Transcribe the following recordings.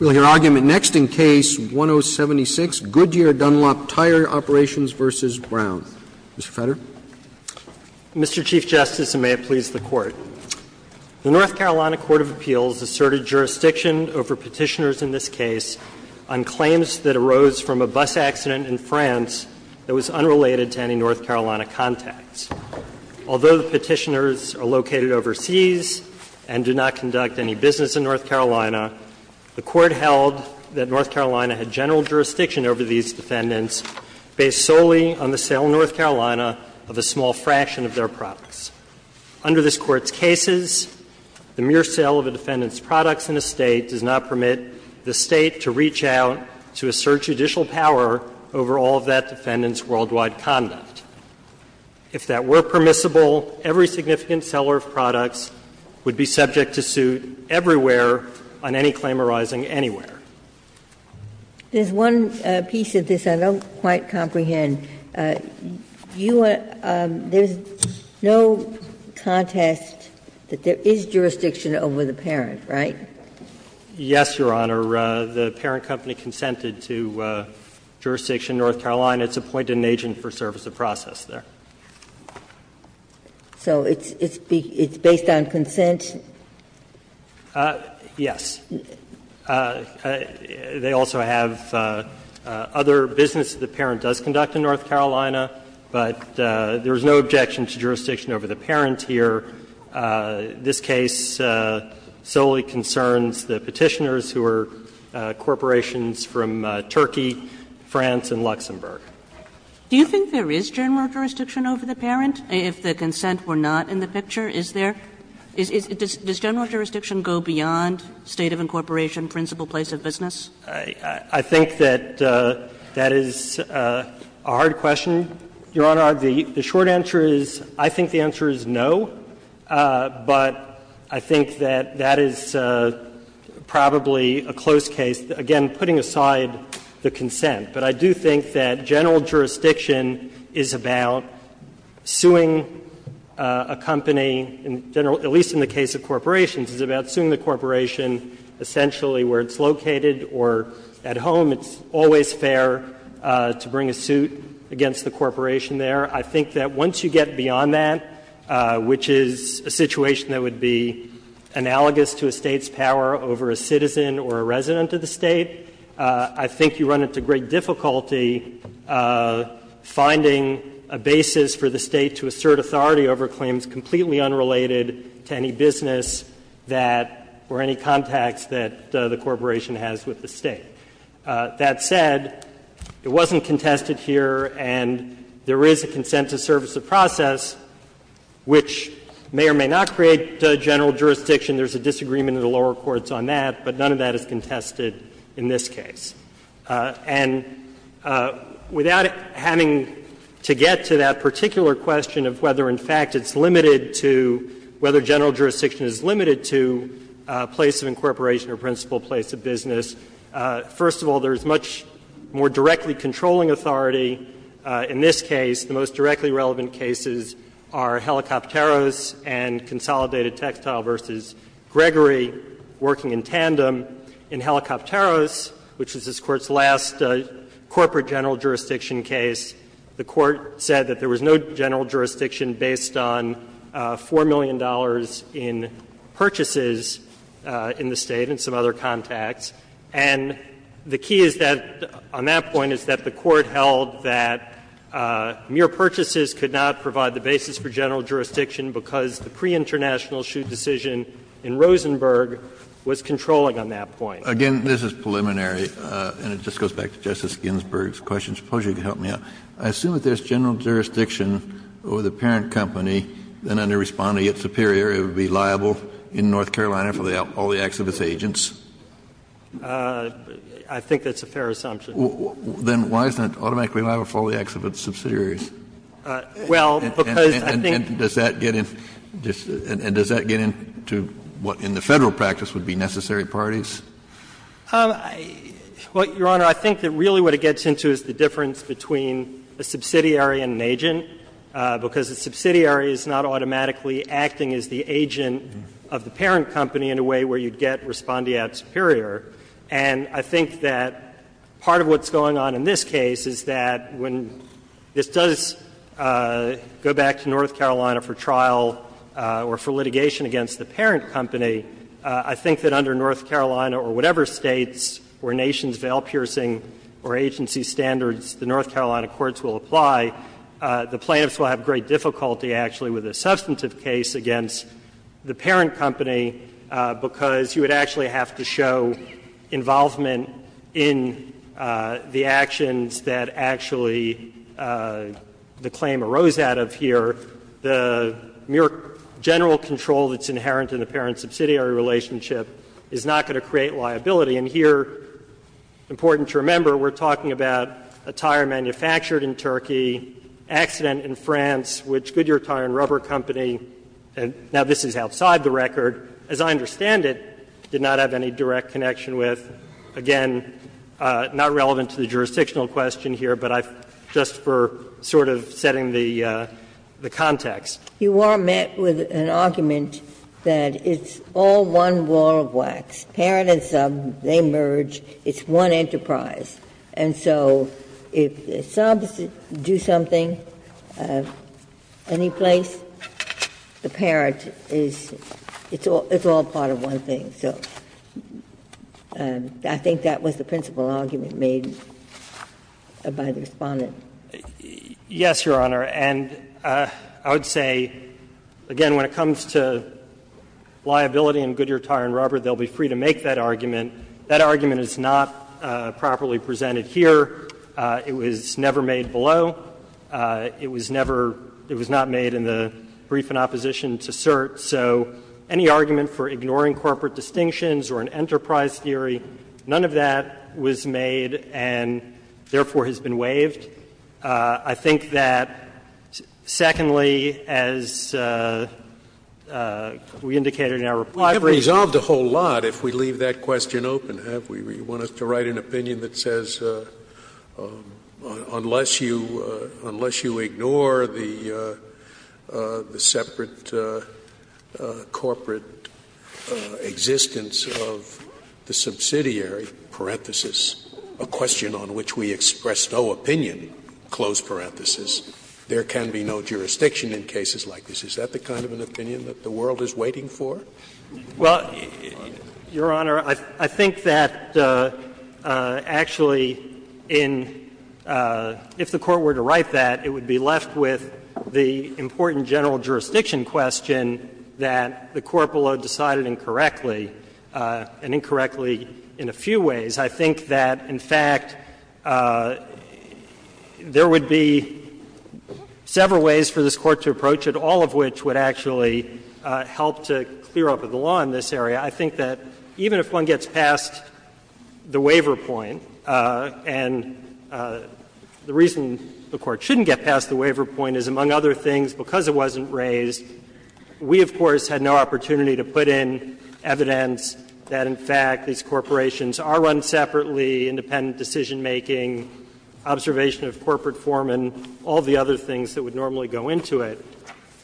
Mr. Fetter. Mr. Chief Justice, and may it please the Court, the North Carolina Court of Appeals asserted jurisdiction over Petitioners in this case on claims that arose from a bus accident in France that was unrelated to any North Carolina contacts. Although the Petitioners are located overseas and do not contact the public, they do not conduct any business in North Carolina, the Court held that North Carolina had general jurisdiction over these defendants based solely on the sale in North Carolina of a small fraction of their products. Under this Court's cases, the mere sale of a defendant's products in a State does not permit the State to reach out to assert judicial power over all of that defendant's worldwide conduct. If that were permissible, every significant seller of products would be subject to suit everywhere on any claim arising anywhere. Ginsburg. There's one piece of this I don't quite comprehend. You are – there's no contest that there is jurisdiction over the parent, right? Yes, Your Honor. The parent company consented to jurisdiction in North Carolina. It's appointed an agent for service of process there. So it's based on consent? Yes. They also have other business the parent does conduct in North Carolina, but there is no objection to jurisdiction over the parent here. This case solely concerns the Petitioners who are corporations from Turkey, France and Luxembourg. Do you think there is general jurisdiction over the parent if the consent were not in the picture, is there? Does general jurisdiction go beyond State of incorporation, principal place of business? I think that that is a hard question, Your Honor. The short answer is I think the answer is no, but I think that that is probably a close case, again, putting aside the consent. But I do think that general jurisdiction is about suing a company in general, at least in the case of corporations, is about suing the corporation essentially where it's located or at home. It's always fair to bring a suit against the corporation there. I think that once you get beyond that, which is a situation that would be analogous to a State's power over a citizen or a resident of the State, I think you run into great difficulty finding a basis for the State to assert authority over claims completely unrelated to any business that or any contacts that the corporation has with the State. That said, it wasn't contested here, and there is a consent to service of process which may or may not create general jurisdiction. There is a disagreement in the lower courts on that, but none of that is contested in this case. And without having to get to that particular question of whether, in fact, it's limited to whether general jurisdiction is limited to a place of incorporation or principal place of business, first of all, there is much more directly controlling authority in this case. The most directly relevant cases are Helicopteros and Consolidated Textile v. General Jurisdiction v. Gregory, working in tandem, in Helicopteros, which was this Court's last corporate general jurisdiction case. The Court said that there was no general jurisdiction based on $4 million in purchases in the State and some other contacts. And the key is that, on that point, is that the Court held that mere purchases could not provide the basis for general jurisdiction because the pre-international shoot decision in Rosenberg was controlling on that point. Kennedy, this is preliminary, and it just goes back to Justice Ginsburg's question. I suppose you could help me out. I assume that there is general jurisdiction over the parent company, then under Respondent v. Superior, it would be liable in North Carolina for all the acts of its agents. I think that's a fair assumption. Then why isn't it automatically liable for all the acts of its subsidiaries? Does that get into what, in the Federal practice, would be necessary parties? Well, Your Honor, I think that really what it gets into is the difference between a subsidiary and an agent, because a subsidiary is not automatically acting as the agent of the parent company in a way where you'd get Respondent v. Superior. And I think that part of what's going on in this case is that when this does go back to North Carolina for trial or for litigation against the parent company, I think that under North Carolina or whatever States where Nations Vail-Piercing or agency standards the North Carolina courts will apply, the plaintiffs will have great difficulty, actually, with a substantive case against the parent company because you would actually have to show involvement in the actions that actually the claim arose out of here. The mere general control that's inherent in the parent-subsidiary relationship is not going to create liability. And here, important to remember, we're talking about a tire manufactured in Turkey, accident in France, which Goodyear Tire and Rubber Company, now this is outside the record, as I understand it, did not have any direct connection with, again, not relevant to the jurisdictional question here, but I've, just for sort of setting Ginsburg-Miller You are met with an argument that it's all one wall of wax. Parent and sub, they merge, it's one enterprise. And so if the subs do something, anyplace, the parent is, it's all part of one thing. So I think that was the principal argument made by the Respondent. Yes, Your Honor. And I would say, again, when it comes to liability in Goodyear Tire and Rubber, they'll be free to make that argument. That argument is not properly presented here. It was never made below. It was never, it was not made in the brief in opposition to cert. So any argument for ignoring corporate distinctions or an enterprise theory, none of that was made and, therefore, has been waived. I think that, secondly, as we indicated in our report, we have resolved a whole lot if we leave that question open, have we? You want us to write an opinion that says, unless you, unless you ignore the, the separate corporate existence of the subsidiary, parenthesis, a question on which we express no opinion, close parenthesis, there can be no jurisdiction in cases like this. Is that the kind of an opinion that the world is waiting for? Well, Your Honor, I think that actually in, if the Court were to write that, it would be left with the important general jurisdiction question that the corporate law decided incorrectly, and incorrectly in a few ways. I think that, in fact, there would be several ways for this Court to approach it, all of which would actually help to clear up the law in this area. I think that even if one gets past the waiver point, and the reason the Court shouldn't get past the waiver point is, among other things, because it wasn't raised, we, of course, had no opportunity to put in evidence that, in fact, these corporations are run separately, independent decision-making, observation of corporate form, and all the other things that would normally go into it.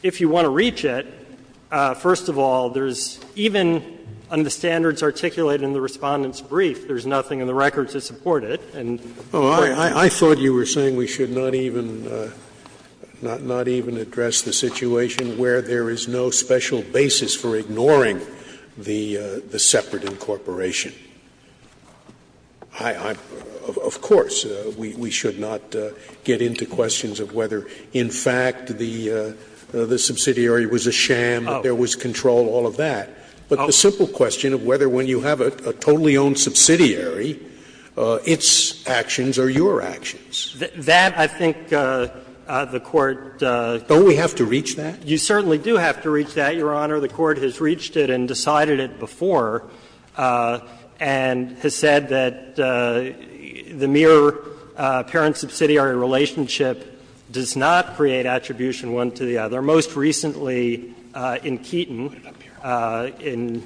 If you want to reach it, first of all, there's even, under the standards articulated in the Respondent's brief, there's nothing in the record to support it. And, of course, there's nothing in the record to support it. Scalia's point is that there is no special basis for ignoring the separate incorporation. Of course, we should not get into questions of whether, in fact, the subsidiary was a sham, that there was control, all of that. But the simple question of whether, when you have a totally owned subsidiary, its actions are your actions. That, I think, the Court doesn't have to reach that. You certainly do have to reach that, Your Honor. The Court has reached it and decided it before, and has said that the mere parent-subsidiary relationship does not create attribution one to the other. And there are many cases that are most recently in Keaton in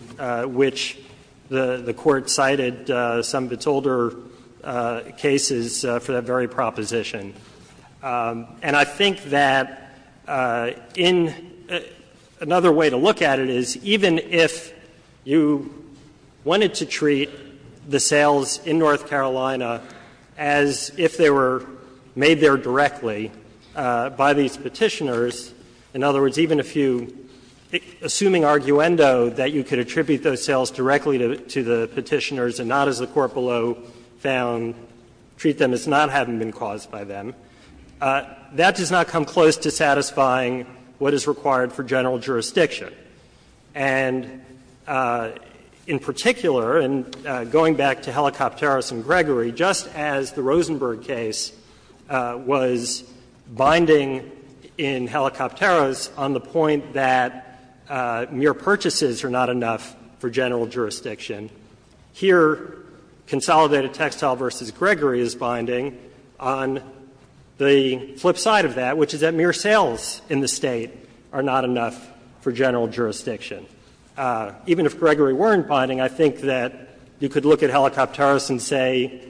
which the Court cited some of its older cases for that very proposition. And I think that in another way to look at it is, even if you wanted to treat the sales in North Carolina as if they were made there directly by these Petitioners, in other words, even if you, assuming arguendo, that you could attribute those sales directly to the Petitioners and not, as the Court below found, treat them as not having been caused by them, that does not come close to satisfying what is required for general jurisdiction. And in particular, and going back to Helicopteros and Gregory, just as the Rosenberg case was binding in Helicopteros on the point that mere purchases are not enough for general jurisdiction, here, Consolidated Textile v. Gregory is binding on the flip side of that, which is that mere sales in the State are not enough for general jurisdiction. Even if Gregory weren't binding, I think that you could look at Helicopteros and say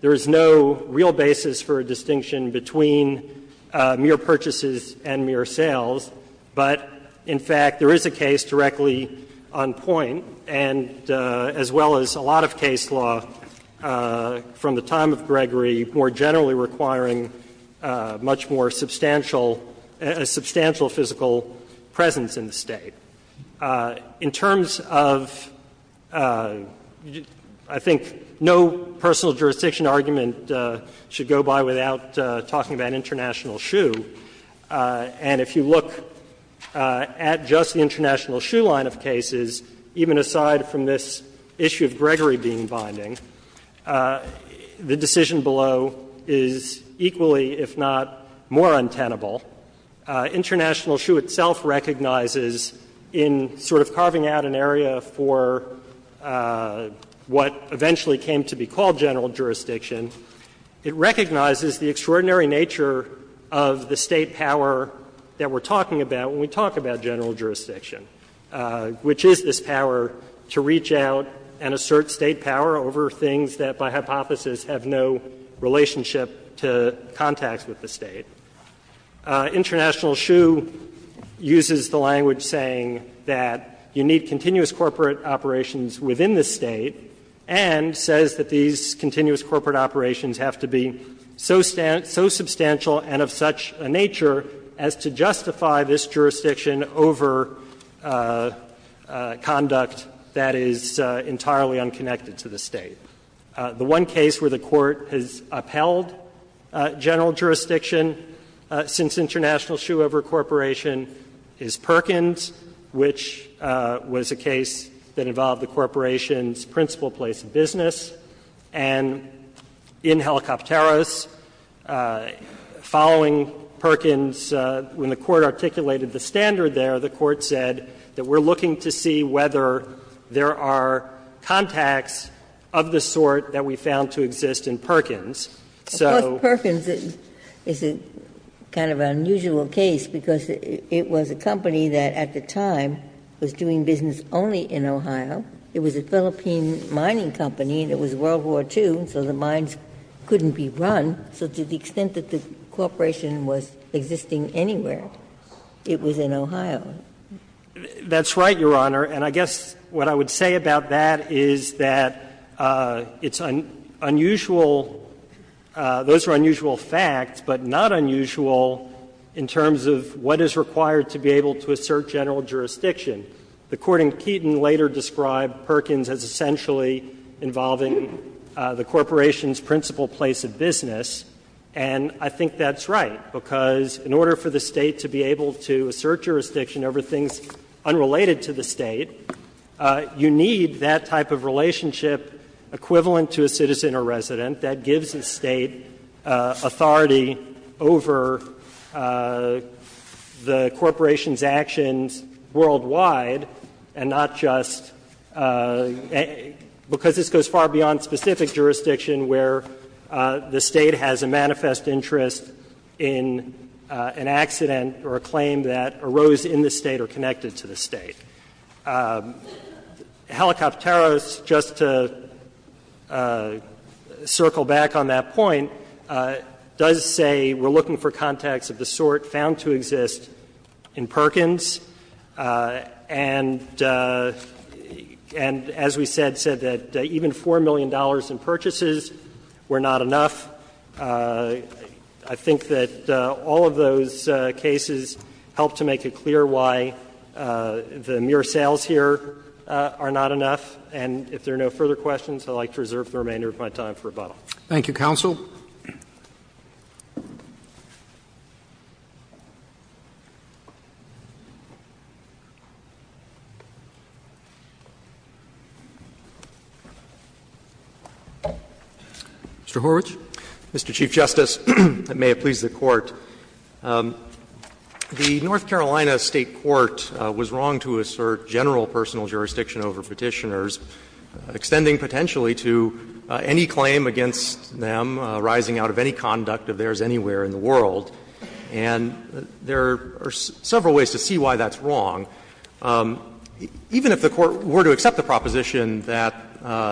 there is no real basis for a distinction between mere purchases and mere sales, but in fact, there is a case directly on point, and as well as a lot of case law from the time of Gregory, more generally requiring much more sales to be made for a substantial, a substantial physical presence in the State. In terms of, I think no personal jurisdiction argument should go by without talking about international shoe, and if you look at just the international shoe line of cases, even aside from this issue of Gregory being binding, the decision below is equally if not more untenable. International shoe itself recognizes in sort of carving out an area for what eventually came to be called general jurisdiction, it recognizes the extraordinary nature of the State power that we are talking about when we talk about general jurisdiction, which is this power to reach out and assert State power over things that, by hypothesis, have no relationship to contacts with the State. International shoe uses the language saying that you need continuous corporate operations within the State, and says that these continuous corporate operations have to be so substantial and of such a nature as to justify this jurisdiction over conduct that is entirely unconnected to the State. The one case where the Court has upheld general jurisdiction since international shoe over corporation is Perkins, which was a case that involved the corporation's principal place of business. And in Helicopteros, following Perkins, when the Court articulated the standards there, the Court said that we're looking to see whether there are contacts of the sort that we found to exist in Perkins. So perkins is a kind of unusual case because it was a company that, at the time, was doing business only in Ohio. It was a Philippine mining company, and it was World War II, so the mines couldn't be run. So to the extent that the corporation was existing anywhere, it was in Ohio. That's right, Your Honor. And I guess what I would say about that is that it's unusual — those are unusual facts, but not unusual in terms of what is required to be able to assert general jurisdiction. The Court in Keaton later described Perkins as essentially involving the corporation's principal place of business, and I think that's right, because in order for the State to be able to assert jurisdiction over things unrelated to the State, you need that type of relationship equivalent to a citizen or resident that gives the State authority over the corporation's actions worldwide, and not just — because this goes far beyond specific jurisdiction where the State has a manifest interest in an accident or a claim that arose in the State or connected to the State. Helicopteros, just to circle back on that point, does say we're looking for contacts of the sort found to exist in Perkins, and as we said, said that even $4 million in purchases were not enough. I think that all of those cases help to make it clear why the mere sales here are not enough. And if there are no further questions, I would like to reserve the remainder of my time for rebuttal. Roberts Thank you, counsel. Mr. Horwich. Horwich, Mr. Chief Justice, and may it please the Court. The North Carolina State court was wrong to assert general personal jurisdiction over Petitioners, extending potentially to any claim against them rising out of any conduct of theirs anywhere in the world. And there are several ways to see why that's wrong. Even if the Court were to accept the proposition that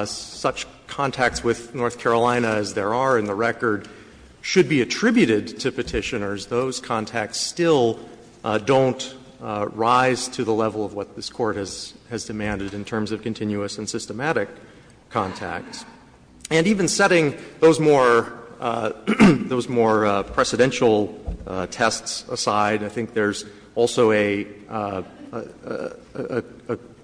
such contacts with North Carolina as there are in the record should be attributed to Petitioners, those contacts still don't rise to the level of what this Court has demanded in terms of continuous and systematic contacts. And even setting those more precedential tests aside, I think there's also a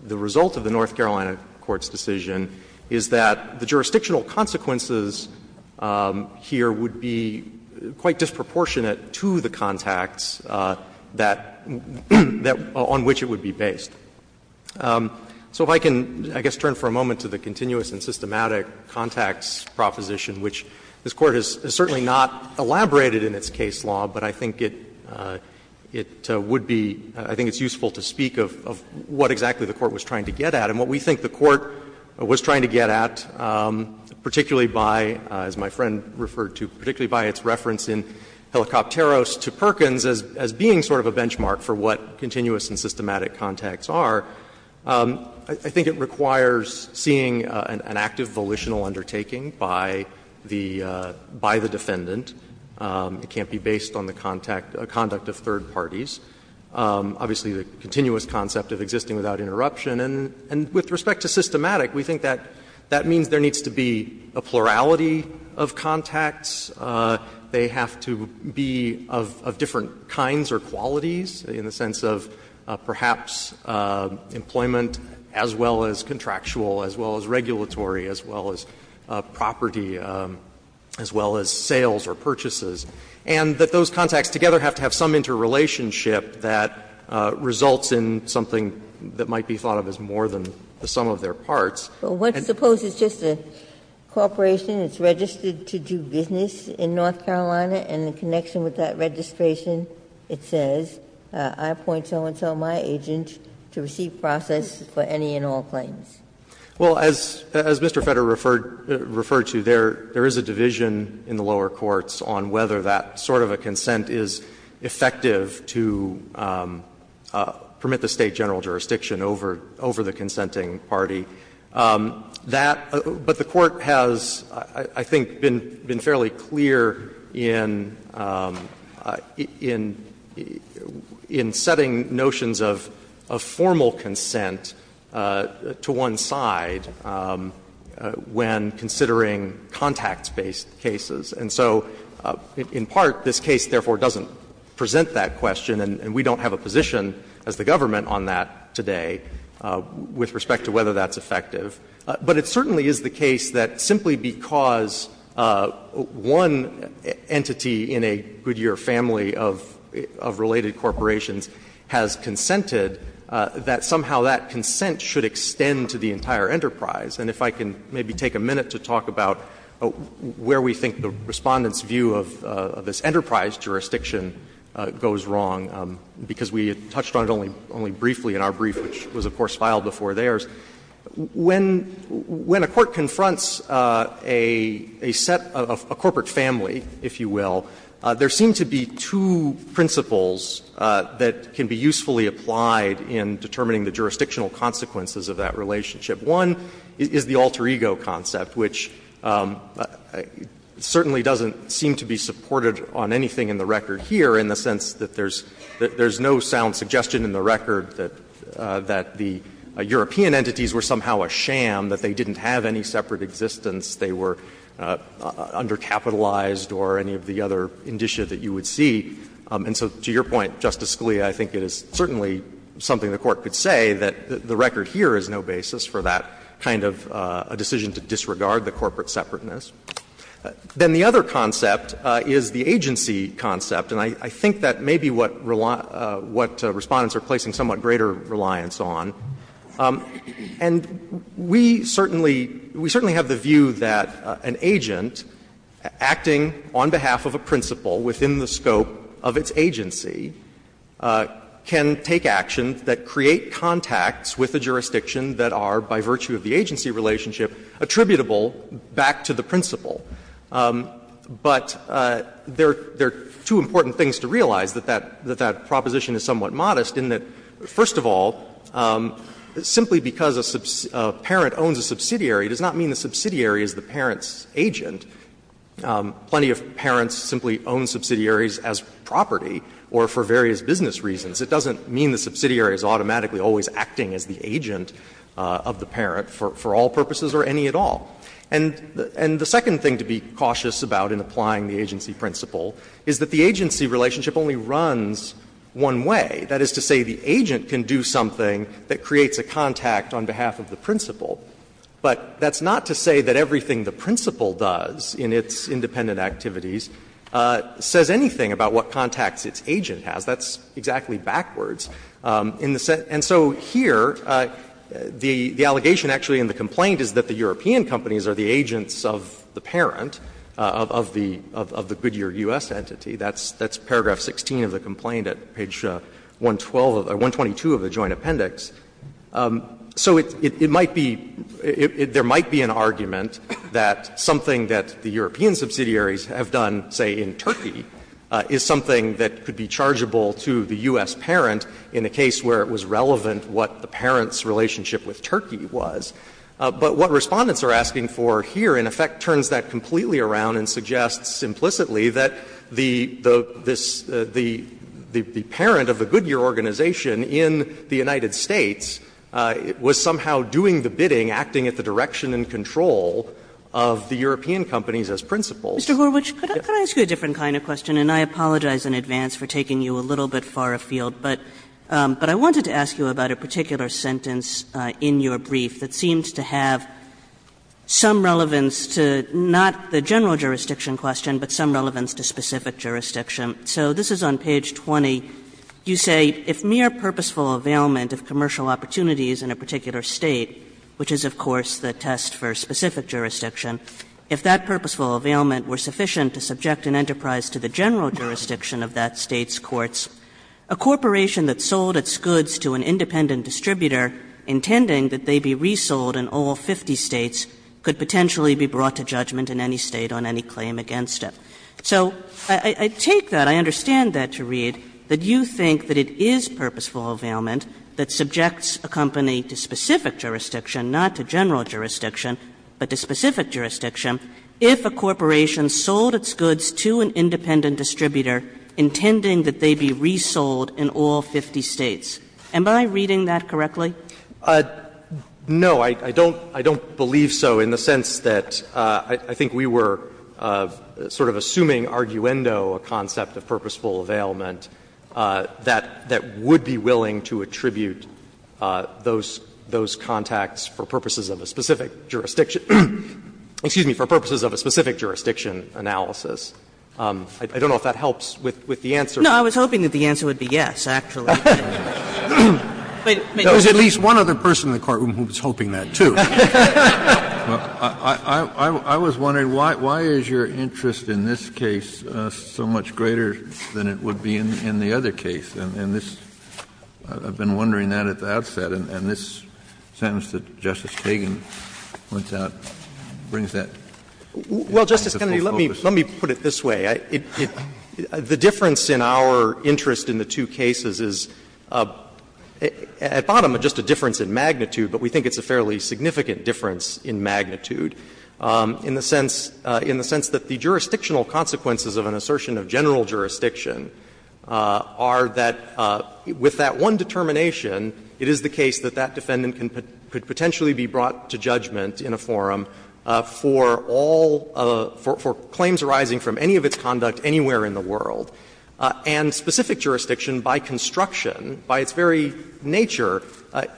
the result of the North Carolina court's decision is that the jurisdictional consequences here would be quite disproportionate to the contacts that that on which it would be based. So if I can, I guess, turn for a moment to the continuous and systematic contacts proposition, which this Court has certainly not elaborated in its case law, but I think it it would be I think it's useful to speak of what exactly the Court was trying to get at. And what we think the Court was trying to get at, particularly by, as my friend referred to, particularly by its reference in Helicopteros to Perkins as being sort of a benchmark for what continuous and systematic contacts are, I think it requires seeing an active volitional undertaking by the defendant. It can't be based on the contact, conduct of third parties. Obviously, the continuous concept of existing without interruption. And with respect to systematic, we think that that means there needs to be a plurality of contacts. They have to be of different kinds or qualities in the sense of perhaps employment as well as contractual, as well as regulatory, as well as property, as well as sales or purchases. And that those contacts together have to have some interrelationship that results in something that might be thought of as more than the sum of their parts. Ginsburg. And suppose it's just a corporation, it's registered to do business in North Carolina, and in connection with that registration it says, I appoint so-and-so my agent to receive process for any and all claims. Well, as Mr. Fetter referred to, there is a division in the lower courts on whether that sort of a consent is effective to permit the State general jurisdiction over the consenting party. That — but the Court has, I think, been fairly clear in setting notions of formal consent to one side when considering contacts-based cases. And so, in part, this case, therefore, doesn't present that question, and we don't have a position as the government on that today with respect to whether that's effective. But it certainly is the case that simply because one entity in a Goodyear family of related corporations has consented, that somehow that consent should extend to the entire enterprise. And if I can maybe take a minute to talk about where we think the Respondent's view of this enterprise jurisdiction goes wrong, because we touched on it only briefly in our brief, which was, of course, filed before theirs. When a court confronts a set of a corporate family, if you will, there seem to be two principles that can be usefully applied in determining the jurisdictional consequences of that relationship. One is the alter ego concept, which certainly doesn't seem to be supported on anything in the record here in the sense that there's no sound suggestion in the record that the European entities were somehow a sham, that they didn't have any separate existence, they were undercapitalized, or any of the other indicia that you would see. And so to your point, Justice Scalia, I think it is certainly something the Court could say, that the record here is no basis for that kind of a decision to disregard the corporate separateness. Then the other concept is the agency concept, and I think that may be what Respondent's are placing somewhat greater reliance on. And we certainly have the view that an agent acting on behalf of a principal within the scope of its agency can take actions that create contacts with a jurisdiction that are, by virtue of the agency relationship, attributable back to the principal. But there are two important things to realize that that proposition is somewhat modest in that, first of all, simply because a parent owns a subsidiary does not mean the subsidiary is the parent's agent. Plenty of parents simply own subsidiaries as property or for various business reasons. It doesn't mean the subsidiary is automatically always acting as the agent of the parent for all purposes or any at all. And the second thing to be cautious about in applying the agency principle is that the agency relationship only runs one way. That is to say, the agent can do something that creates a contact on behalf of the principal. But that's not to say that everything the principal does in its independent activities says anything about what contacts its agent has. That's exactly backwards. And so here, the allegation actually in the complaint is that the European companies are the agents of the parent, of the Goodyear U.S. entity. That's paragraph 16 of the complaint at page 112 of the joint appendix. So it might be — there might be an argument that something that the European subsidiaries have done, say, in Turkey, is something that could be chargeable to the U.S. parent in a case where it was relevant what the parent's relationship with Turkey was. But what Respondents are asking for here, in effect, turns that completely around and suggests implicitly that the parent of the Goodyear organization in the United States was somehow doing the bidding acting at the direction in control of the European companies as principals. Kagan. Kagan. Mr. Gorwitch, could I ask you a different kind of question? And I apologize in advance for taking you a little bit far afield. But I wanted to ask you about a particular sentence in your brief that seems to have some relevance to not the general jurisdiction question, but some relevance to specific jurisdiction. So this is on page 20. You say, If mere purposeful availment of commercial opportunities in a particular State, which is, of course, the test for specific jurisdiction, if that purposeful availment were sufficient to subject an enterprise to the general jurisdiction of that State's courts, a corporation that sold its goods to an independent distributor, intending that they be resold in all 50 States, could potentially be brought to judgment in any State on any claim against it. So I take that, I understand that to read, that you think that it is purposeful availment that subjects a company to specific jurisdiction, not to general jurisdiction, but to specific jurisdiction, if a corporation sold its goods to an independent distributor intending that they be resold in all 50 States. Am I reading that correctly? No. I don't believe so in the sense that I think we were sort of assuming arguendo a concept of purposeful availment that would be willing to attribute those contacts for purposes of a specific jurisdiction analysis. I don't know if that helps with the answer. Kagan. No, I was hoping that the answer would be yes, actually. There was at least one other person in the courtroom who was hoping that, too. I was wondering why is your interest in this case so much greater than it would be in the other case? And this, I've been wondering that at the outset. And this sentence that Justice Kagan points out brings that into full focus. Well, Justice Kennedy, let me put it this way. The difference in our interest in the two cases is, at bottom, just a difference in magnitude, but we think it's a fairly significant difference in magnitude in the sense that the jurisdictional consequences of an assertion of general jurisdiction are that, with that one determination, it is the case that that defendant could potentially be brought to judgment in a forum for all of the – for claims arising from any of its conduct anywhere in the world. And specific jurisdiction, by construction, by its very nature,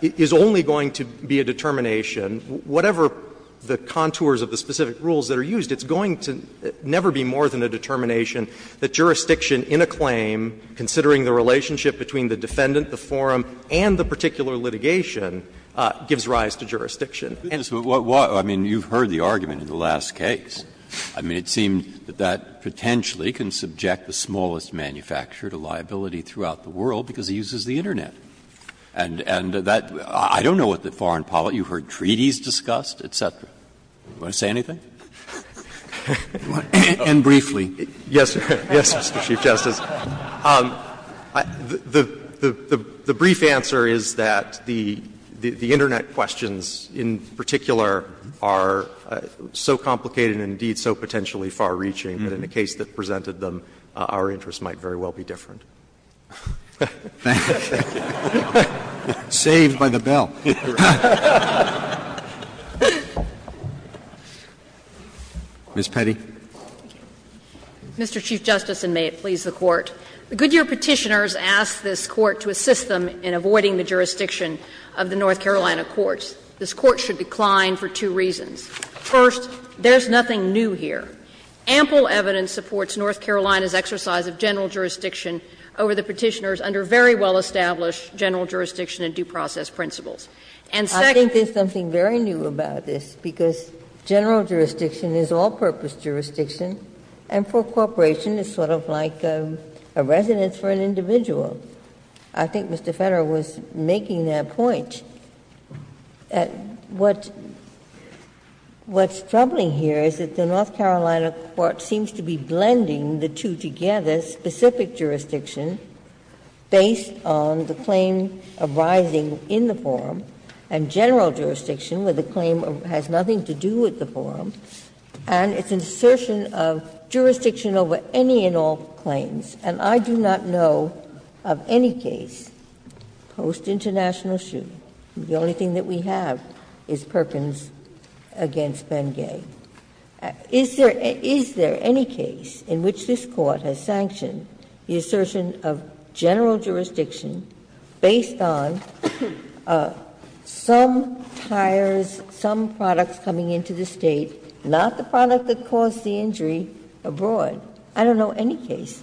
is only going to be a determination, whatever the contours of the specific rules that are used, it's going to never be more than a determination that jurisdiction in a claim, considering the relationship between the defendant, the forum, and the particular litigation given, gives rise to jurisdiction. Breyer. Breyer. I mean, you've heard the argument in the last case. I mean, it seemed that that potentially can subject the smallest manufacturer to liability throughout the world because it uses the Internet. And that – I don't know what the foreign policy – you've heard treaties discussed, et cetera. Do you want to say anything? And briefly. Yes, Mr. Chief Justice. The brief answer is that the Internet questions, in particular, are so complicated and, indeed, so potentially far-reaching that in the case that presented them, our interests might very well be different. Thank you. Saved by the bell. Ms. Petty. Mr. Chief Justice, and may it please the Court. The Goodyear Petitioners asked this Court to assist them in avoiding the jurisdiction of the North Carolina courts. This Court should decline for two reasons. First, there's nothing new here. Ample evidence supports North Carolina's exercise of general jurisdiction over the Petitioners under very well-established general jurisdiction and due process principles. And second – I think there's something very new about this, because general jurisdiction is all-purpose jurisdiction, and for a corporation, it's sort of like a residence for an individual. I think Mr. Federer was making that point. What's troubling here is that the North Carolina court seems to be blending the two together, specific jurisdiction based on the claim arising in the forum, and general jurisdiction, where the claim has nothing to do with the forum, and its assertion of jurisdiction over any and all claims. And I do not know of any case post-international shooting. The only thing that we have is Perkins against Bengay. Is there any case in which this Court has sanctioned the assertion of general jurisdiction based on some tires, some products coming into the State, not the product that caused the injury abroad? I don't know any case.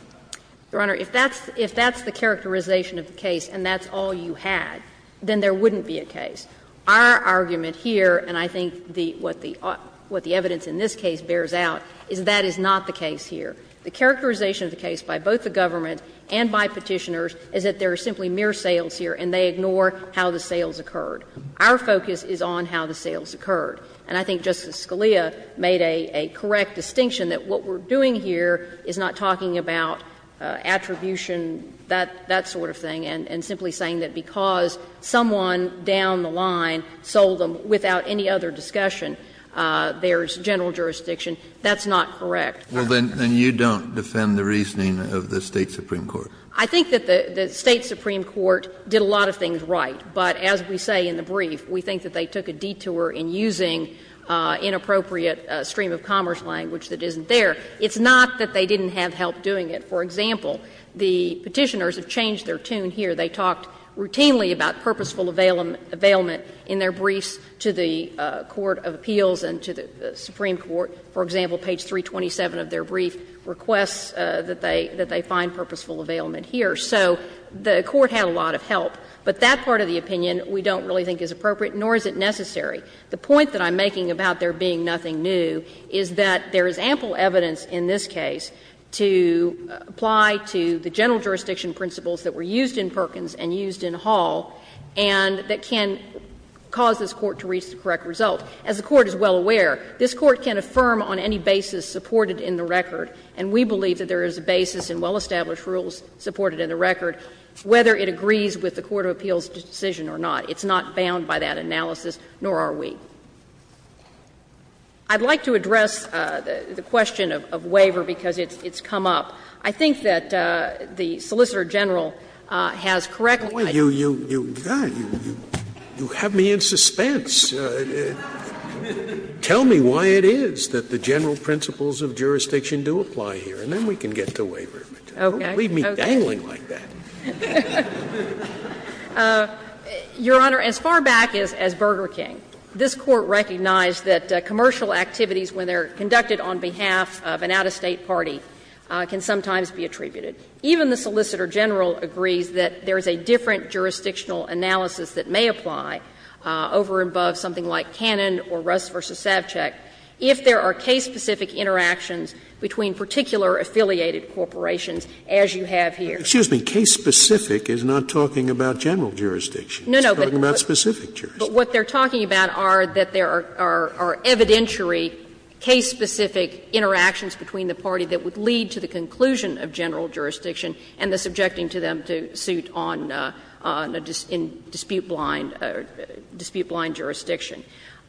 Your Honor, if that's the characterization of the case and that's all you had, then there wouldn't be a case. Our argument here, and I think what the evidence in this case bears out, is that is not the case here. The characterization of the case by both the government and by Petitioners is that there are simply mere sales here and they ignore how the sales occurred. Our focus is on how the sales occurred. And I think Justice Scalia made a correct distinction that what we're doing here is not talking about attribution, that sort of thing, and simply saying that because someone down the line sold them without any other discussion, there's general jurisdiction. That's not correct. Well, then you don't defend the reasoning of the State supreme court? I think that the State supreme court did a lot of things right. But as we say in the brief, we think that they took a detour in using inappropriate stream of commerce language that isn't there. It's not that they didn't have help doing it. For example, the Petitioners have changed their tune here. They talked routinely about purposeful availment in their briefs to the court of appeals and to the supreme court, for example, page 327 of their brief requests that they find purposeful availment here. So the court had a lot of help. But that part of the opinion we don't really think is appropriate, nor is it necessary. The point that I'm making about there being nothing new is that there is ample evidence in this case to apply to the general jurisdiction principles that were used in Perkins and used in Hall and that can cause this Court to reach the correct result. As the Court is well aware, this Court can affirm on any basis supported in the record, and we believe that there is a basis in well-established rules supported in the record, whether it agrees with the court of appeals decision or not. It's not bound by that analysis, nor are we. I'd like to address the question of waiver because it's come up. I think that the Solicitor General has correctly, I think. You have me in suspense. Tell me why it is that the general principles of jurisdiction do apply here, and then we can get to waiver. Don't leave me dangling like that. Your Honor, as far back as Burger King, this Court recognized that commercial activities, when they are conducted on behalf of an out-of-state party, can sometimes be attributed. Even the Solicitor General agrees that there is a different jurisdictional analysis that may apply over and above something like Cannon or Russ v. Savchuk if there are case-specific interactions between particular affiliated corporations as you have here. Scalia's case-specific is not talking about general jurisdiction. It's talking about specific jurisdiction. No, no, but what they're talking about are that there are evidentiary case-specific interactions between the party that would lead to the conclusion of general jurisdiction and the subjecting to them to suit on a dispute-blind, dispute-blind jurisdiction.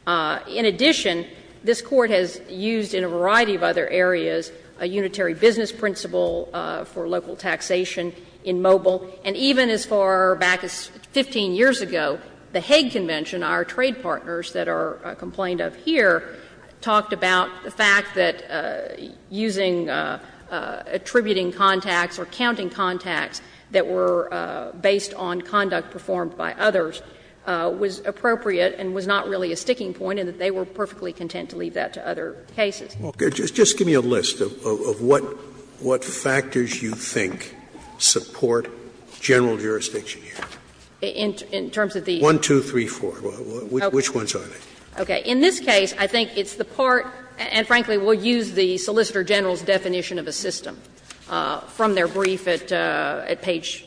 In addition, this Court has used in a variety of other areas a unitary business principle for local taxation in Mobile, and even as far back as 15 years ago, the Hague Convention, our trade partners that are complained of here, talked about the fact that using attributing contacts or counting contacts that were based on conduct performed by others was appropriate and was not really a sticking point and that they were perfectly content to leave that to other cases. Scalia's case-specific is not talking about general jurisdiction. It's talking about specific jurisdiction. In addition, this Court has used in a variety of other areas a unitary business And, frankly, we'll use the Solicitor General's definition of a system from their brief at page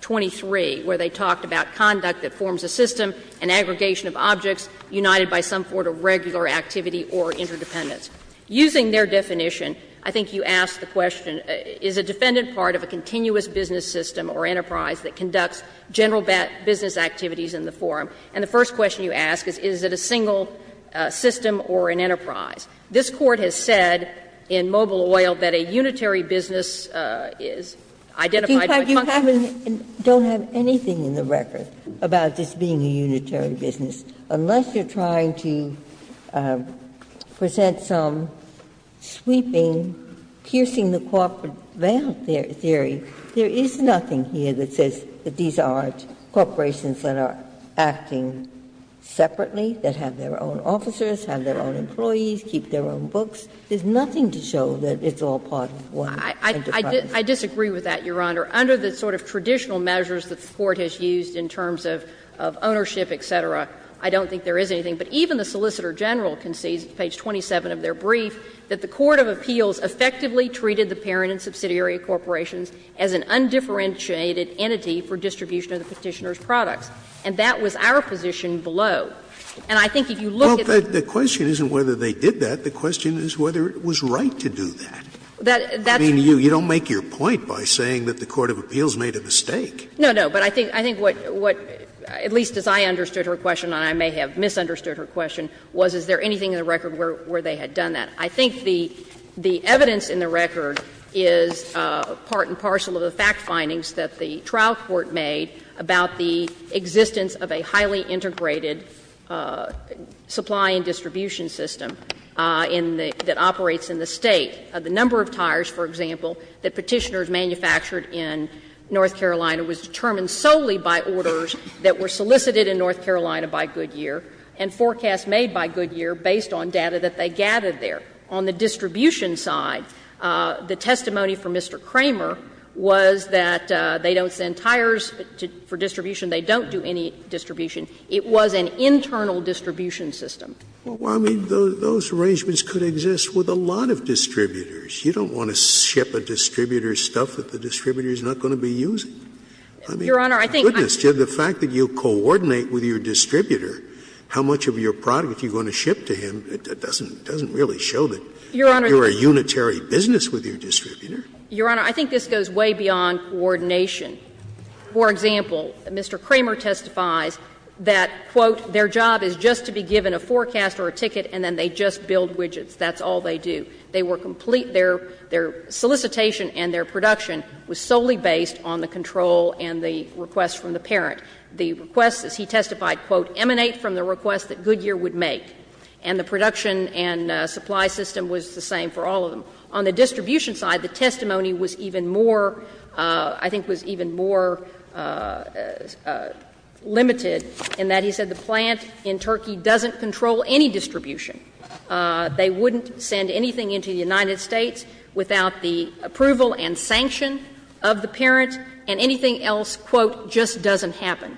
23, where they talked about conduct that forms a system, an aggregation of objects united by some sort of regular activity or interdependence. Using their definition, I think you asked the question, is a defendant part of a continuous business system or enterprise that conducts general business activities in the forum? And the first question you ask is, is it a single system or an enterprise? This Court has said in Mobile Oil that a unitary business is identified by functions. Ginsburg-Carr, you haven't, don't have anything in the record about this being a unitary business, unless you're trying to present some sweeping, piercing the corporate veil theory. There is nothing here that says that these aren't corporations that are acting separately, that have their own officers, have their own employees, keep their own books. There's nothing to show that it's all part of one enterprise. I disagree with that, Your Honor. Under the sort of traditional measures that the Court has used in terms of ownership, et cetera, I don't think there is anything. But even the Solicitor General concedes, page 27 of their brief, that the court of appeals effectively treated the parent and subsidiary corporations as an undifferentiated entity for distribution of the Petitioner's products. And that was our position below. And I think if you look at the question. Scalia, the question isn't whether they did that. The question is whether it was right to do that. I mean, you don't make your point by saying that the court of appeals made a mistake. No, no. But I think what, at least as I understood her question, and I may have misunderstood her question, was is there anything in the record where they had done that. I think the evidence in the record is part and parcel of the fact findings that the existence of a highly integrated supply and distribution system in the — that operates in the State, the number of tires, for example, that Petitioner's manufactured in North Carolina was determined solely by orders that were solicited in North Carolina by Goodyear and forecasts made by Goodyear based on data that they gathered there. On the distribution side, the testimony from Mr. Kramer was that they don't send any distribution. It was an internal distribution system. Scalia, I mean, those arrangements could exist with a lot of distributors. You don't want to ship a distributor stuff that the distributor is not going to be using. I mean, my goodness, the fact that you coordinate with your distributor how much of your product you're going to ship to him, it doesn't really show that you're a unitary business with your distributor. Your Honor, I think this goes way beyond coordination. For example, Mr. Kramer testifies that, quote, their job is just to be given a forecast or a ticket and then they just build widgets. That's all they do. They were complete — their solicitation and their production was solely based on the control and the requests from the parent. The requests, as he testified, quote, emanate from the requests that Goodyear would make. And the production and supply system was the same for all of them. On the distribution side, the testimony was even more, I think, was even more limited in that he said the plant in Turkey doesn't control any distribution. They wouldn't send anything into the United States without the approval and sanction of the parent, and anything else, quote, just doesn't happen.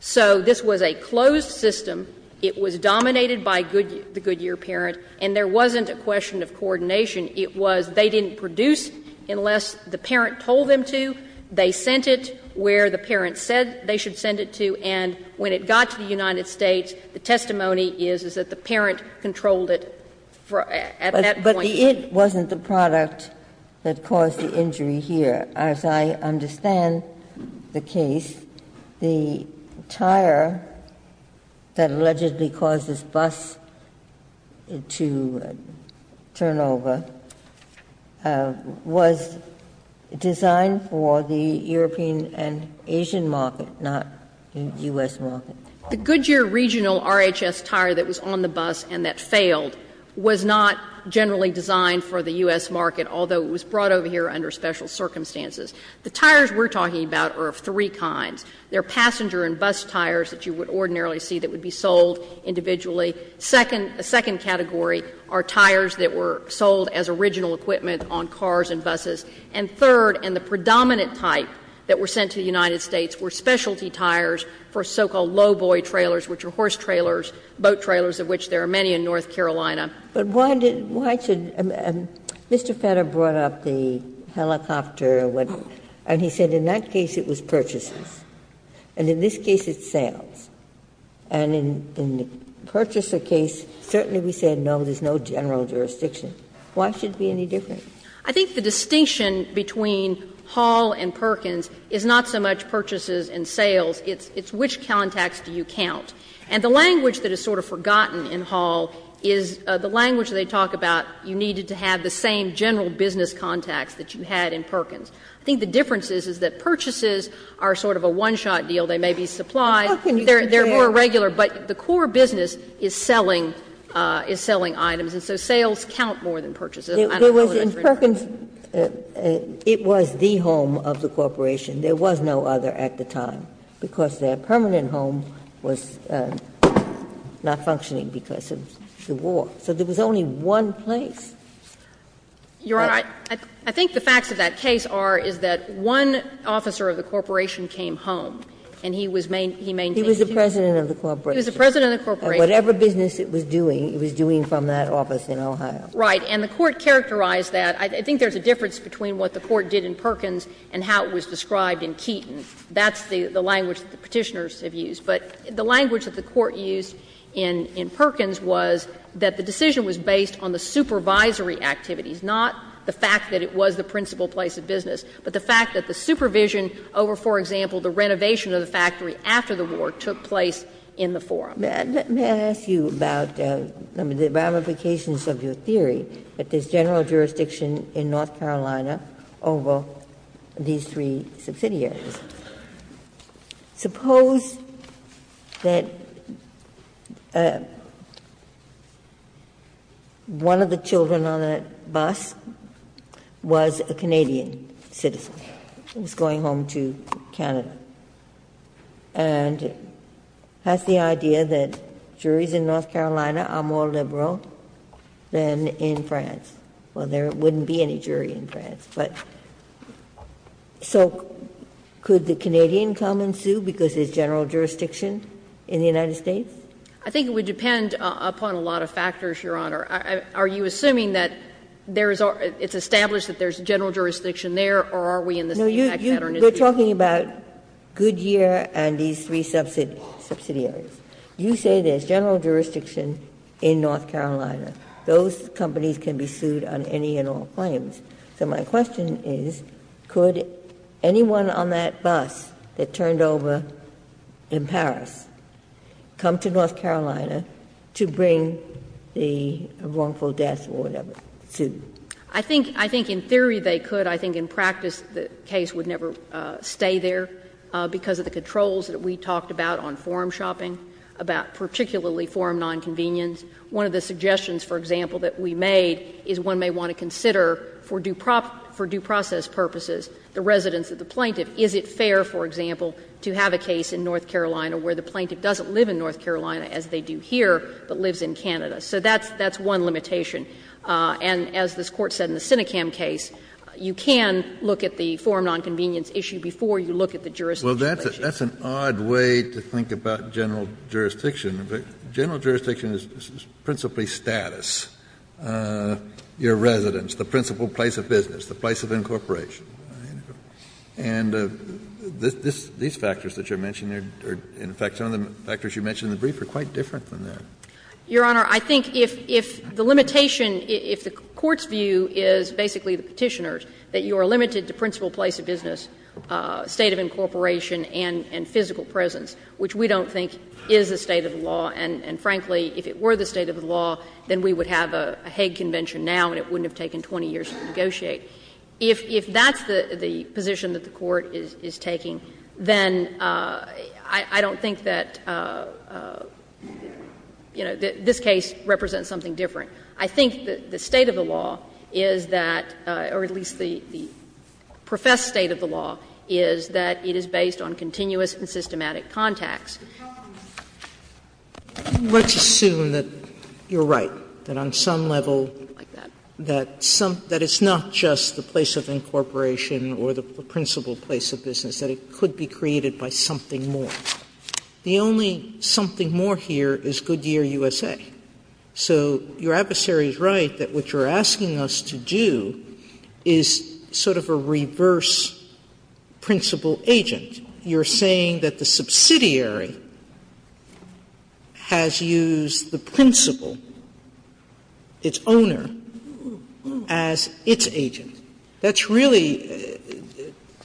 So this was a closed system. It was dominated by Goodyear, the Goodyear parent, and there wasn't a question of coordination. It was they didn't produce unless the parent told them to, they sent it where the parent said they should send it to, and when it got to the United States, the testimony is, is that the parent controlled it at that point. Ginsburg. But the it wasn't the product that caused the injury here. As I understand the case, the tire that allegedly caused this bus to turn over was designed for the European and Asian market, not U.S. market. The Goodyear regional RHS tire that was on the bus and that failed was not generally designed for the U.S. market, although it was brought over here under special circumstances. The tires we're talking about are of three kinds. There are passenger and bus tires that you would ordinarily see that would be sold individually. Second, a second category are tires that were sold as original equipment on cars and buses. And third, and the predominant type that were sent to the United States were specialty tires for so-called lowboy trailers, which are horse trailers, boat trailers, of which there are many in North Carolina. Ginsburg. But why did why should Mr. Fetter brought up the helicopter and he said in that case it was purchases and in this case it's sales. And in the purchaser case, certainly we said no, there's no general jurisdiction. Why should it be any different? I think the distinction between Hall and Perkins is not so much purchases and sales, it's which contacts do you count. And the language that is sort of forgotten in Hall is the language they talk about you needed to have the same general business contacts that you had in Perkins. I think the difference is, is that purchases are sort of a one-shot deal. They may be supplied. They're more regular, but the core business is selling, is selling items. And so sales count more than purchases. I don't know whether that's reasonable. Ginsburg. In Perkins, it was the home of the corporation. There was no other at the time, because their permanent home was not functioning because of the war. So there was only one place. You're right. I think the facts of that case are, is that one officer of the corporation came home and he was maintaining. He was the president of the corporation. He was the president of the corporation. Whatever business it was doing, it was doing from that office in Ohio. Right. And the Court characterized that. I think there's a difference between what the Court did in Perkins and how it was described in Keaton. That's the language that the Petitioners have used. But the language that the Court used in Perkins was that the decision was based on the supervisory activities, not the fact that it was the principal place of business, but the fact that the supervision over, for example, the renovation of the factory after the war took place in the forum. May I ask you about the ramifications of your theory that there's general jurisdiction in North Carolina over these three subsidiaries? Suppose that one of the children on that bus was a Canadian citizen who was going home to Canada, and has the idea that juries in North Carolina are more liberal than in France. Well, there wouldn't be any jury in France, but so could the Canadian come and sue because there's general jurisdiction in the United States? I think it would depend upon a lot of factors, Your Honor. Are you assuming that there is or it's established that there's general jurisdiction there, or are we in the same pattern? No, you're talking about Goodyear and these three subsidiaries. You say there's general jurisdiction in North Carolina. Those companies can be sued on any and all claims. So my question is, could anyone on that bus that turned over in Paris come to North Carolina to bring the wrongful death or whatever, sue? I think in theory they could. I think in practice the case would never stay there because of the controls that we talked about on forum shopping, about particularly forum nonconvenience. One of the suggestions, for example, that we made is one may want to consider for due process purposes the residence of the plaintiff. Is it fair, for example, to have a case in North Carolina where the plaintiff doesn't live in North Carolina as they do here, but lives in Canada? So that's one limitation. And as this Court said in the Sinecam case, you can look at the forum nonconvenience issue before you look at the jurisdiction issue. Kennedy, that's an odd way to think about general jurisdiction. General jurisdiction is principally status, your residence, the principal place of business, the place of incorporation. And these factors that you're mentioning are, in fact, some of the factors you mentioned in the brief are quite different than that. Your Honor, I think if the limitation, if the Court's view is basically the Petitioner's, that you are limited to principal place of business, state of incorporation, and physical presence, which we don't think is a state of the law, and frankly, if it were the state of the law, then we would have a Hague Convention now and it wouldn't have taken 20 years to negotiate. If that's the position that the Court is taking, then I don't think that the Court would have said, you know, this case represents something different. I think the state of the law is that, or at least the professed state of the law, is that it is based on continuous and systematic contacts. Sotomayor, let's assume that you're right, that on some level, that it's not just the place of incorporation or the principal place of business, that it could be created by something more. The only something more here is Goodyear, USA. So your adversary is right that what you're asking us to do is sort of a reverse principal agent. You're saying that the subsidiary has used the principal, its owner, as its agent. That's really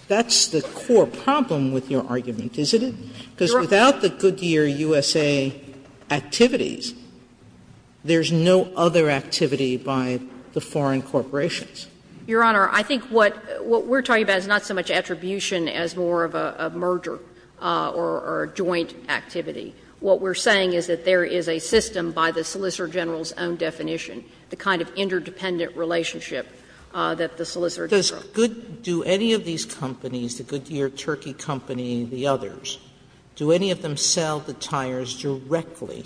the core problem with your argument, isn't it? Because without the Goodyear, USA activities, there's no other activity by the foreign corporations. Your Honor, I think what we're talking about is not so much attribution as more of a merger or a joint activity. What we're saying is that there is a system by the solicitor general's own definition, the kind of interdependent relationship that the solicitor general. Sotomayor, do any of these companies, the Goodyear Turkey Company, the others, do any of them sell the tires directly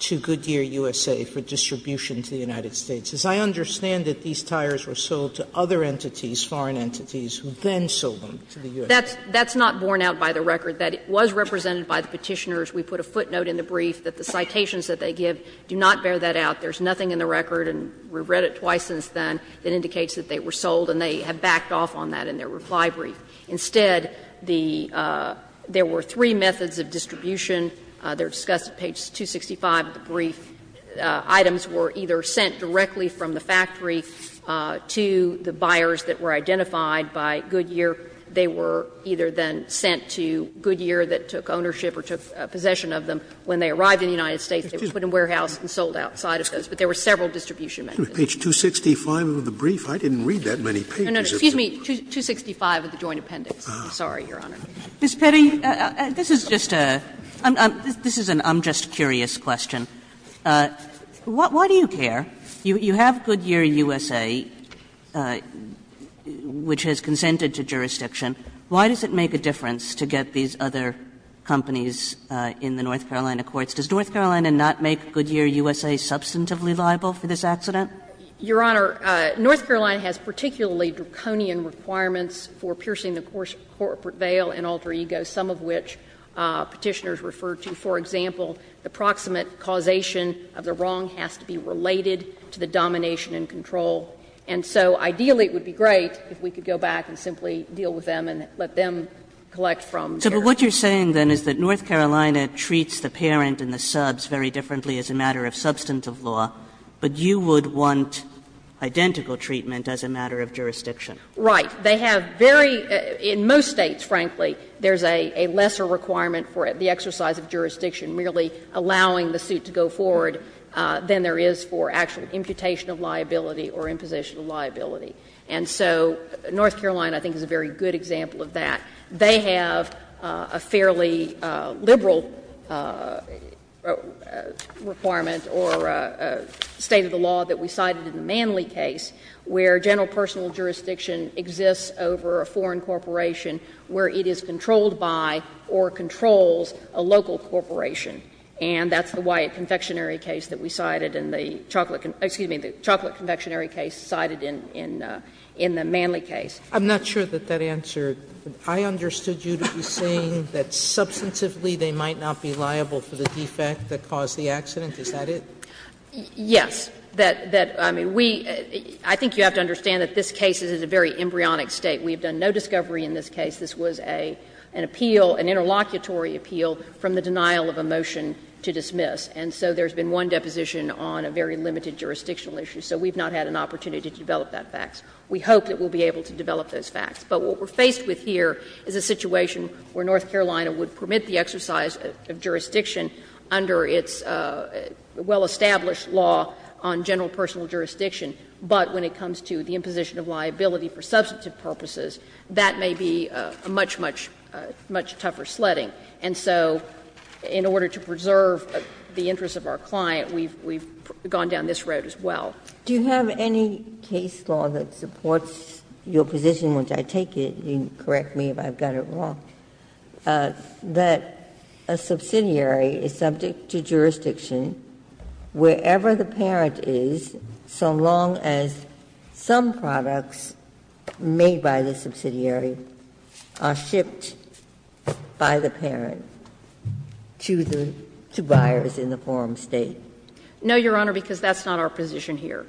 to Goodyear, USA, for distribution to the United States? As I understand it, these tires were sold to other entities, foreign entities, who then sold them to the U.S.A. That's not borne out by the record, that it was represented by the Petitioners. We put a footnote in the brief that the citations that they give do not bear that out. There's nothing in the record, and we've read it twice since then, that indicates that they were sold, and they have backed off on that in their reply brief. Instead, the – there were three methods of distribution. They're discussed at page 265 of the brief. Items were either sent directly from the factory to the buyers that were identified by Goodyear. They were either then sent to Goodyear that took ownership or took possession of them. When they arrived in the United States, they were put in warehouses and sold outside of those. But there were several distribution methods. Scalia, page 265 of the brief? I didn't read that many pages. No, no, excuse me, 265 of the joint appendix. I'm sorry, Your Honor. Ms. Petty, this is just a – this is an I'm-just-curious question. Why do you care? You have Goodyear, USA, which has consented to jurisdiction. Why does it make a difference to get these other companies in the North Carolina courts? Does North Carolina not make Goodyear, USA, substantively liable for this accident? Your Honor, North Carolina has particularly draconian requirements for piercing the corporate veil and alter egos, some of which Petitioners refer to. For example, the proximate causation of the wrong has to be related to the domination and control. And so ideally, it would be great if we could go back and simply deal with them and let them collect from their own. But what you're saying, then, is that North Carolina treats the parent and the subs very differently as a matter of substantive law. But you would want identical treatment as a matter of jurisdiction. Right. They have very – in most States, frankly, there's a lesser requirement for the exercise of jurisdiction merely allowing the suit to go forward than there is for actual imputation of liability or imposition of liability. And so North Carolina, I think, is a very good example of that. They have a fairly liberal requirement or state of the law that we cited in the Manley case, where general personal jurisdiction exists over a foreign corporation where it is controlled by or controls a local corporation. And that's the Wyatt Confectionery case that we cited in the chocolate – excuse me, the chocolate confectionery case cited in the Manley case. Sotomayor, I'm not sure that that answered. I understood you to be saying that, substantively, they might not be liable for the defect that caused the accident. Is that it? Yes. That – I mean, we – I think you have to understand that this case is in a very embryonic State. We have done no discovery in this case. This was an appeal, an interlocutory appeal from the denial of a motion to dismiss. And so there's been one deposition on a very limited jurisdictional issue. So we've not had an opportunity to develop that fax. We hope that we'll be able to develop those fax. But what we're faced with here is a situation where North Carolina would permit the exercise of jurisdiction under its well-established law on general personal jurisdiction, but when it comes to the imposition of liability for substantive purposes, that may be a much, much, much tougher sledding. And so in order to preserve the interests of our client, we've gone down this road as well. Ginsburg. Do you have any case law that supports your position, which I take it – you can correct me if I've got it wrong – that a subsidiary is subject to jurisdiction wherever the parent is so long as some products made by the subsidiary are shipped by the parent to the – to buyers in the forum State? No, Your Honor, because that's not our position here.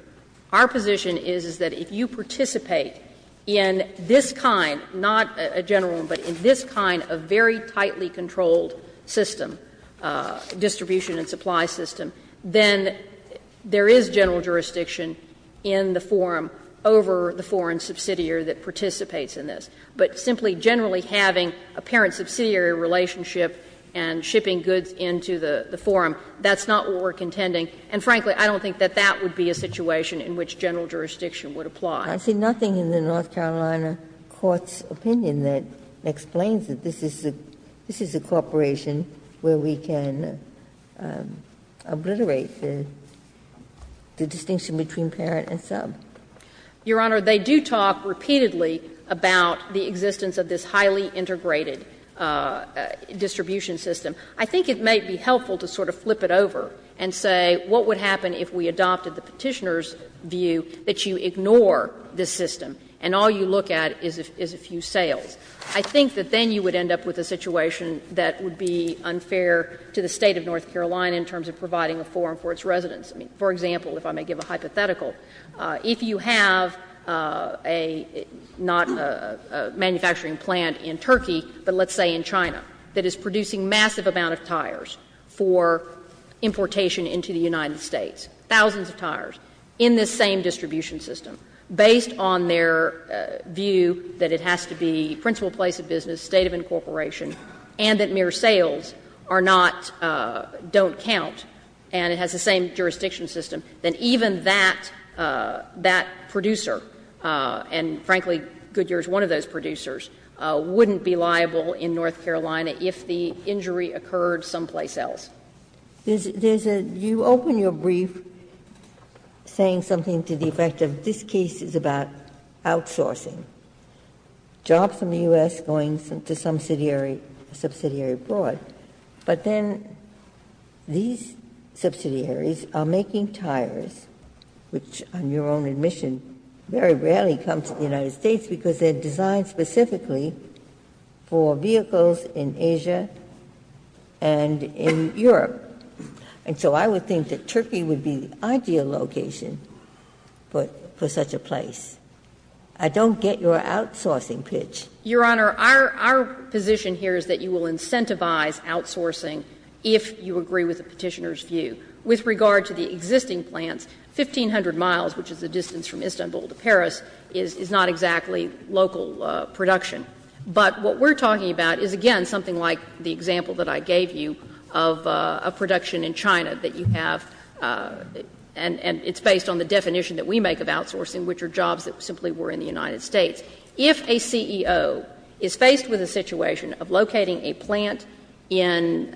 Our position is, is that if you participate in this kind, not a general one, but in this kind of very tightly controlled system, distribution and supply system, then there is general jurisdiction in the forum over the foreign subsidiary that participates in this. But simply generally having a parent-subsidiary relationship and shipping goods into the forum, that's not what we're contending. And frankly, I don't think that that would be a situation in which general jurisdiction would apply. Ginsburg. I see nothing in the North Carolina court's opinion that explains that this is a – this is a corporation where we can obliterate the distinction between parent and sub. Your Honor, they do talk repeatedly about the existence of this highly integrated distribution system. I think it may be helpful to sort of flip it over and say, what would happen if we adopted the Petitioner's view that you ignore this system and all you look at is a few sales? I think that then you would end up with a situation that would be unfair to the State of North Carolina in terms of providing a forum for its residents. I mean, for example, if I may give a hypothetical, if you have a – not a manufacturing plant in Turkey, but let's say in China, that is producing massive amount of tires for importation into the United States, thousands of tires, in this same distribution system, based on their view that it has to be principal place of business, state of incorporation, and that mere sales are not – don't count, and it has the same jurisdiction system, then even that – that producer, and frankly, Goodyear is one of those producers, wouldn't be liable in North Carolina if the injury occurred someplace else. Ginsburg. There's a – you open your brief saying something to the effect of this case is about outsourcing, jobs in the U.S. going to subsidiary abroad, but then these subsidiaries are making tires, which on your own admission very rarely comes to the United States because they are designed specifically for vehicles in Asia and in Europe. And so I would think that Turkey would be the ideal location for such a place. I don't get your outsourcing pitch. Your Honor, our position here is that you will incentivize outsourcing if you agree with the Petitioner's view. With regard to the existing plants, 1,500 miles, which is the distance from Istanbul to Paris, is not exactly local production. But what we're talking about is, again, something like the example that I gave you of a production in China that you have, and it's based on the definition that we make of outsourcing, which are jobs that simply were in the United States. If a CEO is faced with a situation of locating a plant in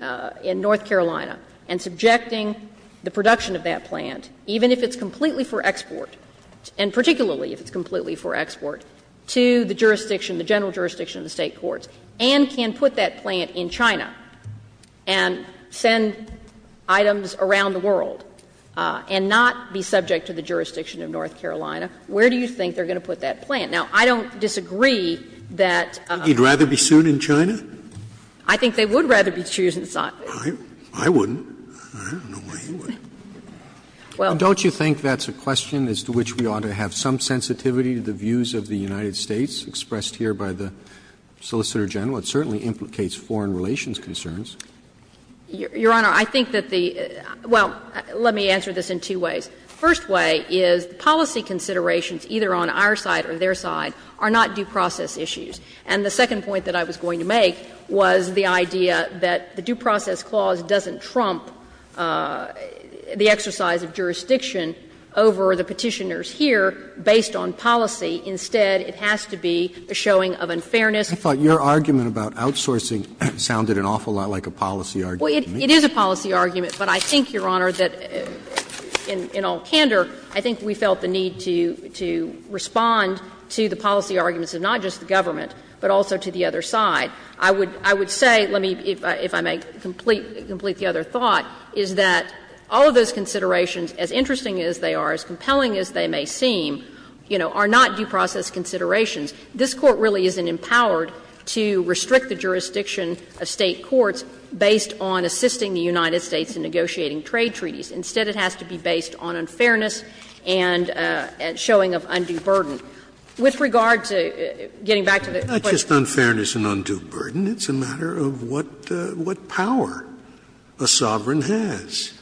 North Carolina and subjecting the production of that plant, even if it's completely for export, and particularly if it's completely for export, to the jurisdiction, the general jurisdiction of the State courts, and can put that plant in China and send items around the world and not be subject to the jurisdiction of North Carolina, where do you think they're going to put that plant? Now, I don't disagree that they're going to put that plant in North Carolina. Scalia, I think you'd rather be sued in China? I think they would rather be sued in South Carolina. I wouldn't. I don't know why you would. Well, don't you think that's a question as to which we ought to have some sensitivity to the views of the United States expressed here by the Solicitor General? It certainly implicates foreign relations concerns. Your Honor, I think that the — well, let me answer this in two ways. The first way is policy considerations, either on our side or their side, are not due process issues. And the second point that I was going to make was the idea that the due process clause doesn't trump the exercise of jurisdiction over the Petitioner's here, based on policy. Instead, it has to be a showing of unfairness. I thought your argument about outsourcing sounded an awful lot like a policy argument to me. Well, it is a policy argument, but I think, Your Honor, that in all candor, I think we felt the need to respond to the policy arguments of not just the government, but also to the other side. I would say, let me, if I may complete the other thought, is that all of those considerations, as interesting as they are, as compelling as they may seem, you know, are not due process considerations. This Court really isn't empowered to restrict the jurisdiction of State courts based on assisting the United States in negotiating trade treaties. Instead, it has to be based on unfairness and showing of undue burden. It's a matter of what power a sovereign has.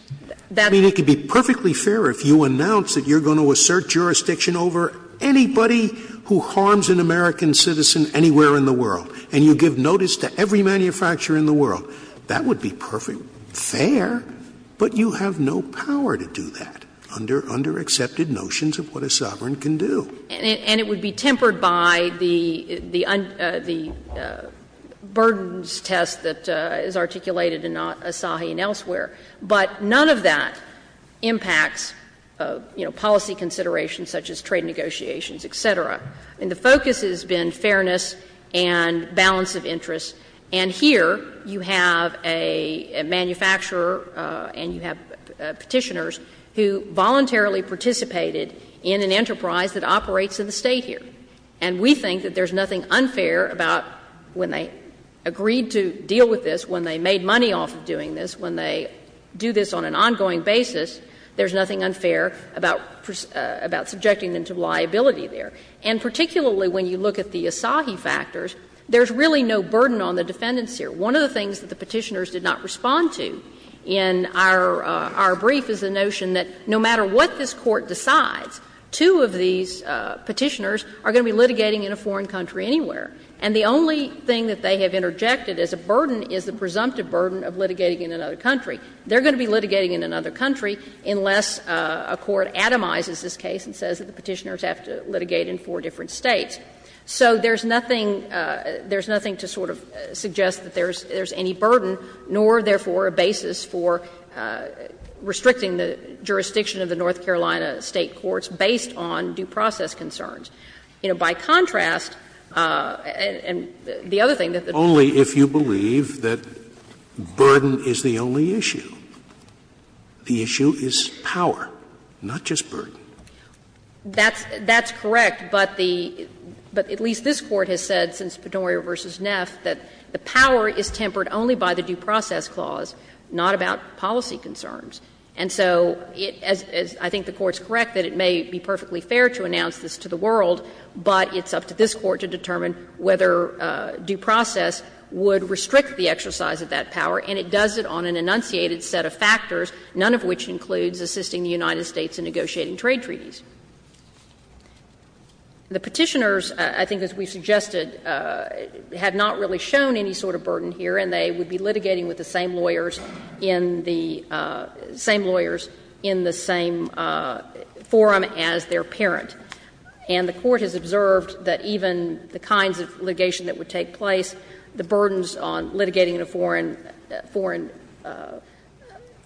I mean, it could be perfectly fair if you announce that you're going to assert jurisdiction over anybody who harms an American citizen anywhere in the world, and you give notice to every manufacturer in the world. That would be perfect, fair, but you have no power to do that under underaccepted notions of what a sovereign can do. And it would be tempered by the burdens test that is articulated in Asahi and elsewhere. But none of that impacts, you know, policy considerations such as trade negotiations, et cetera. I mean, the focus has been fairness and balance of interest. And here you have a manufacturer and you have Petitioners who voluntarily participated in an enterprise that operates in the State here. And we think that there's nothing unfair about when they agreed to deal with this, when they made money off of doing this, when they do this on an ongoing basis, there's nothing unfair about subjecting them to liability there. And particularly when you look at the Asahi factors, there's really no burden on the defendants here. One of the things that the Petitioners did not respond to in our brief is the notion that no matter what this Court decides, two of these Petitioners are going to be litigating in a foreign country anywhere. And the only thing that they have interjected as a burden is the presumptive burden of litigating in another country. They're going to be litigating in another country unless a court atomizes this case and says that the Petitioners have to litigate in four different States. So there's nothing to sort of suggest that there's any burden, nor therefore a basis for restricting the jurisdiction of the North Carolina State courts based on due process concerns. You know, by contrast, and the other thing that the Court has said is that the burden is the only issue. The issue is power, not just burden. That's correct, but the at least this Court has said since Penoria v. Neff that the And so it as I think the Court's correct that it may be perfectly fair to announce this to the world, but it's up to this Court to determine whether due process would restrict the exercise of that power, and it does it on an enunciated set of factors, none of which includes assisting the United States in negotiating trade treaties. The Petitioners, I think as we've suggested, have not really shown any sort of burden here, and they would be litigating with the same lawyers in the same lawyers in the same forum as their parent. And the Court has observed that even the kinds of litigation that would take place, the burdens on litigating in a foreign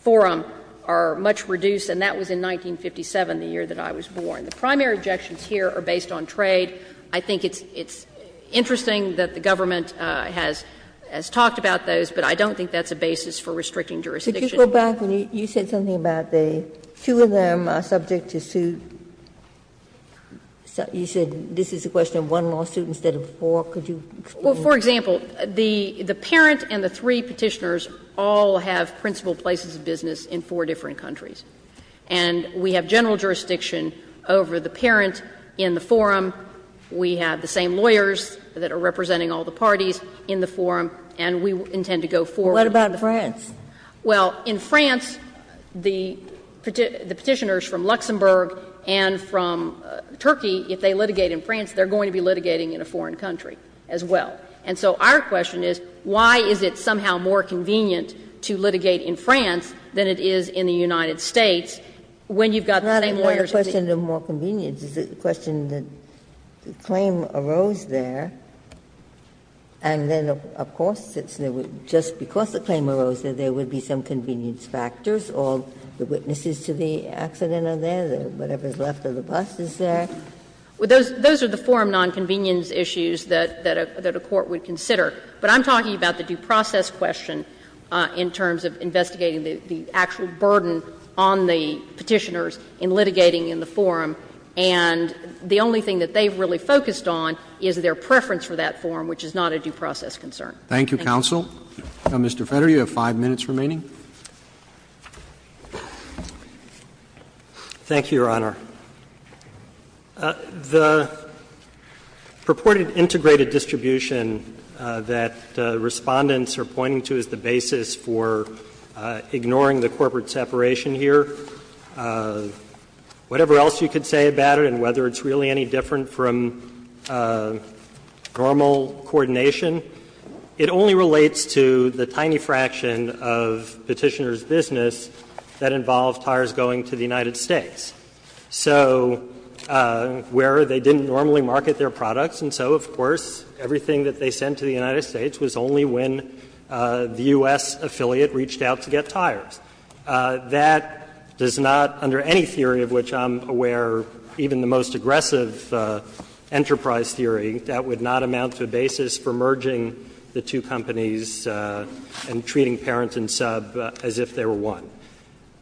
forum are much reduced, and that was in 1957, the year that I was born. The primary objections here are based on trade. I think it's interesting that the government has talked about those, but I don't think that's a basis for restricting jurisdiction. Ginsburg. Ginsburg. You said something about the two of them are subject to suit. You said this is a question of one lawsuit instead of four. Could you explain that? Well, for example, the parent and the three Petitioners all have principal places of business in four different countries, and we have general jurisdiction over the parent in the forum. We have the same lawyers that are representing all the parties in the forum, and we intend to go forward in the forum. Well, what about France? Well, in France, the Petitioners from Luxembourg and from Turkey, if they litigate in France, they're going to be litigating in a foreign country as well. And so our question is, why is it somehow more convenient to litigate in France than it is in the United States when you've got the same lawyers in the United States? Why is it more convenient? Is it a question that the claim arose there, and then, of course, it's just because the claim arose there, there would be some convenience factors, or the witnesses to the accident are there, whatever's left of the bus is there? Those are the forum nonconvenience issues that a court would consider. But I'm talking about the due process question in terms of investigating the actual burden on the Petitioners in litigating in the forum. And the only thing that they've really focused on is their preference for that forum, which is not a due process concern. Thank you. Roberts. Roberts. Roberts. Now, Mr. Feder, you have 5 minutes remaining. Thank you, Your Honor. The purported integrated distribution that Respondents are pointing to is the basis for ignoring the corporate separation here. Whatever else you could say about it and whether it's really any different from normal coordination, it only relates to the tiny fraction of Petitioners' business that involved tires going to the United States. So where they didn't normally market their products, and so, of course, everything that they sent to the United States was only when the U.S. affiliate reached out to get tires. That does not, under any theory of which I'm aware, even the most aggressive enterprise theory, that would not amount to a basis for merging the two companies and treating parent and sub as if they were one.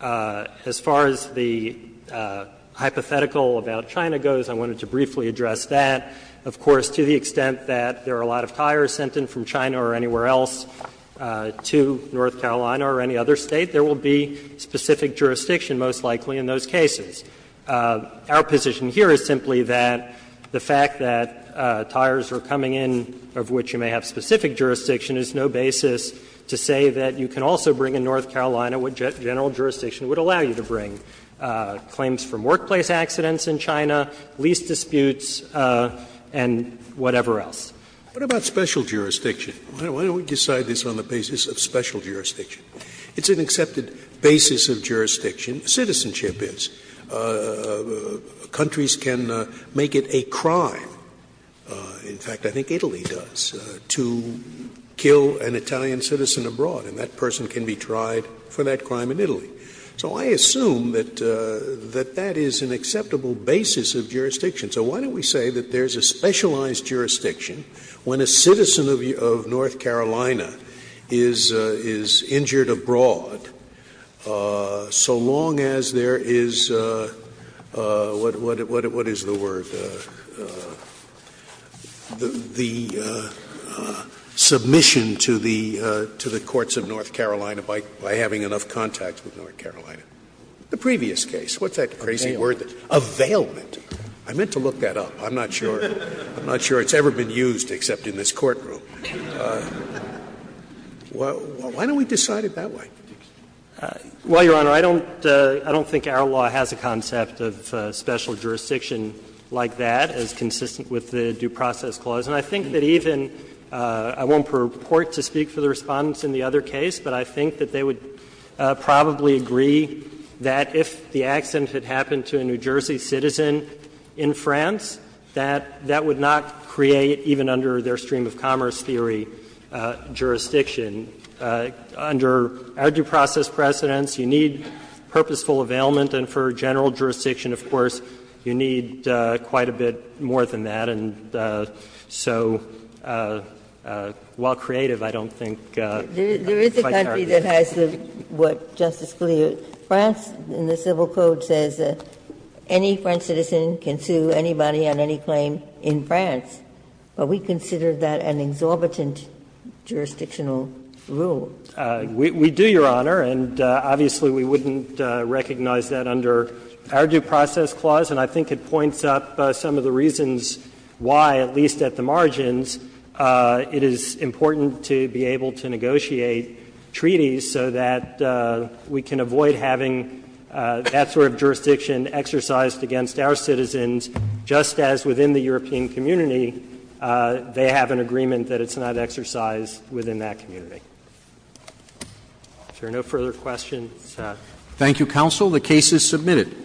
As far as the hypothetical about China goes, I wanted to briefly address that. Of course, to the extent that there are a lot of tires sent in from China or anywhere else to North Carolina or any other State, there will be specific jurisdiction most likely in those cases. Our position here is simply that the fact that tires are coming in of which you may have specific jurisdiction is no basis to say that you can also bring in North Carolina what general jurisdiction would allow you to bring. Claims from workplace accidents in China, lease disputes, and whatever else. Scalia, what about special jurisdiction? Why don't we decide this on the basis of special jurisdiction? It's an accepted basis of jurisdiction, citizenship is. Countries can make it a crime, in fact, I think Italy does, to kill an Italian citizen abroad, and that person can be tried for that crime in Italy. So I assume that that is an acceptable basis of jurisdiction. So why don't we say that there is a specialized jurisdiction when a citizen of North Carolina is injured abroad so long as there is what is the word, the submission to the courts of North Carolina by having enough contact with North Carolina. The previous case, what's that crazy word? Availment. I meant to look that up. I'm not sure it's ever been used except in this courtroom. Why don't we decide it that way? Well, Your Honor, I don't think our law has a concept of special jurisdiction like that as consistent with the Due Process Clause, and I think that even, I won't purport to speak for the Respondents in the other case, but I think that they would probably agree that if the accident had happened to a New Jersey citizen in France, that that would not create, even under their stream of commerce theory, jurisdiction. Under our due process precedents, you need purposeful availment, and for general jurisdiction, of course, you need quite a bit more than that. And so while creative, I don't think it's quite fair. Ginsburg. There is a country that has what Justice Scalia, France, in the Civil Code, says that any French citizen can sue anybody on any claim in France, but we consider that an exorbitant jurisdictional rule. We do, Your Honor, and obviously we wouldn't recognize that under our Due Process Clause, and I think it points up some of the reasons why, at least at the margins, it is important to be able to negotiate treaties so that we can avoid having that sort of jurisdiction exercised against our citizens, just as within the European community, they have an agreement that it's not exercised within that community. If there are no further questions. Thank you, counsel. The case is submitted.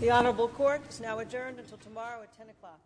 The Honorable Court is now adjourned until tomorrow at 10 o'clock.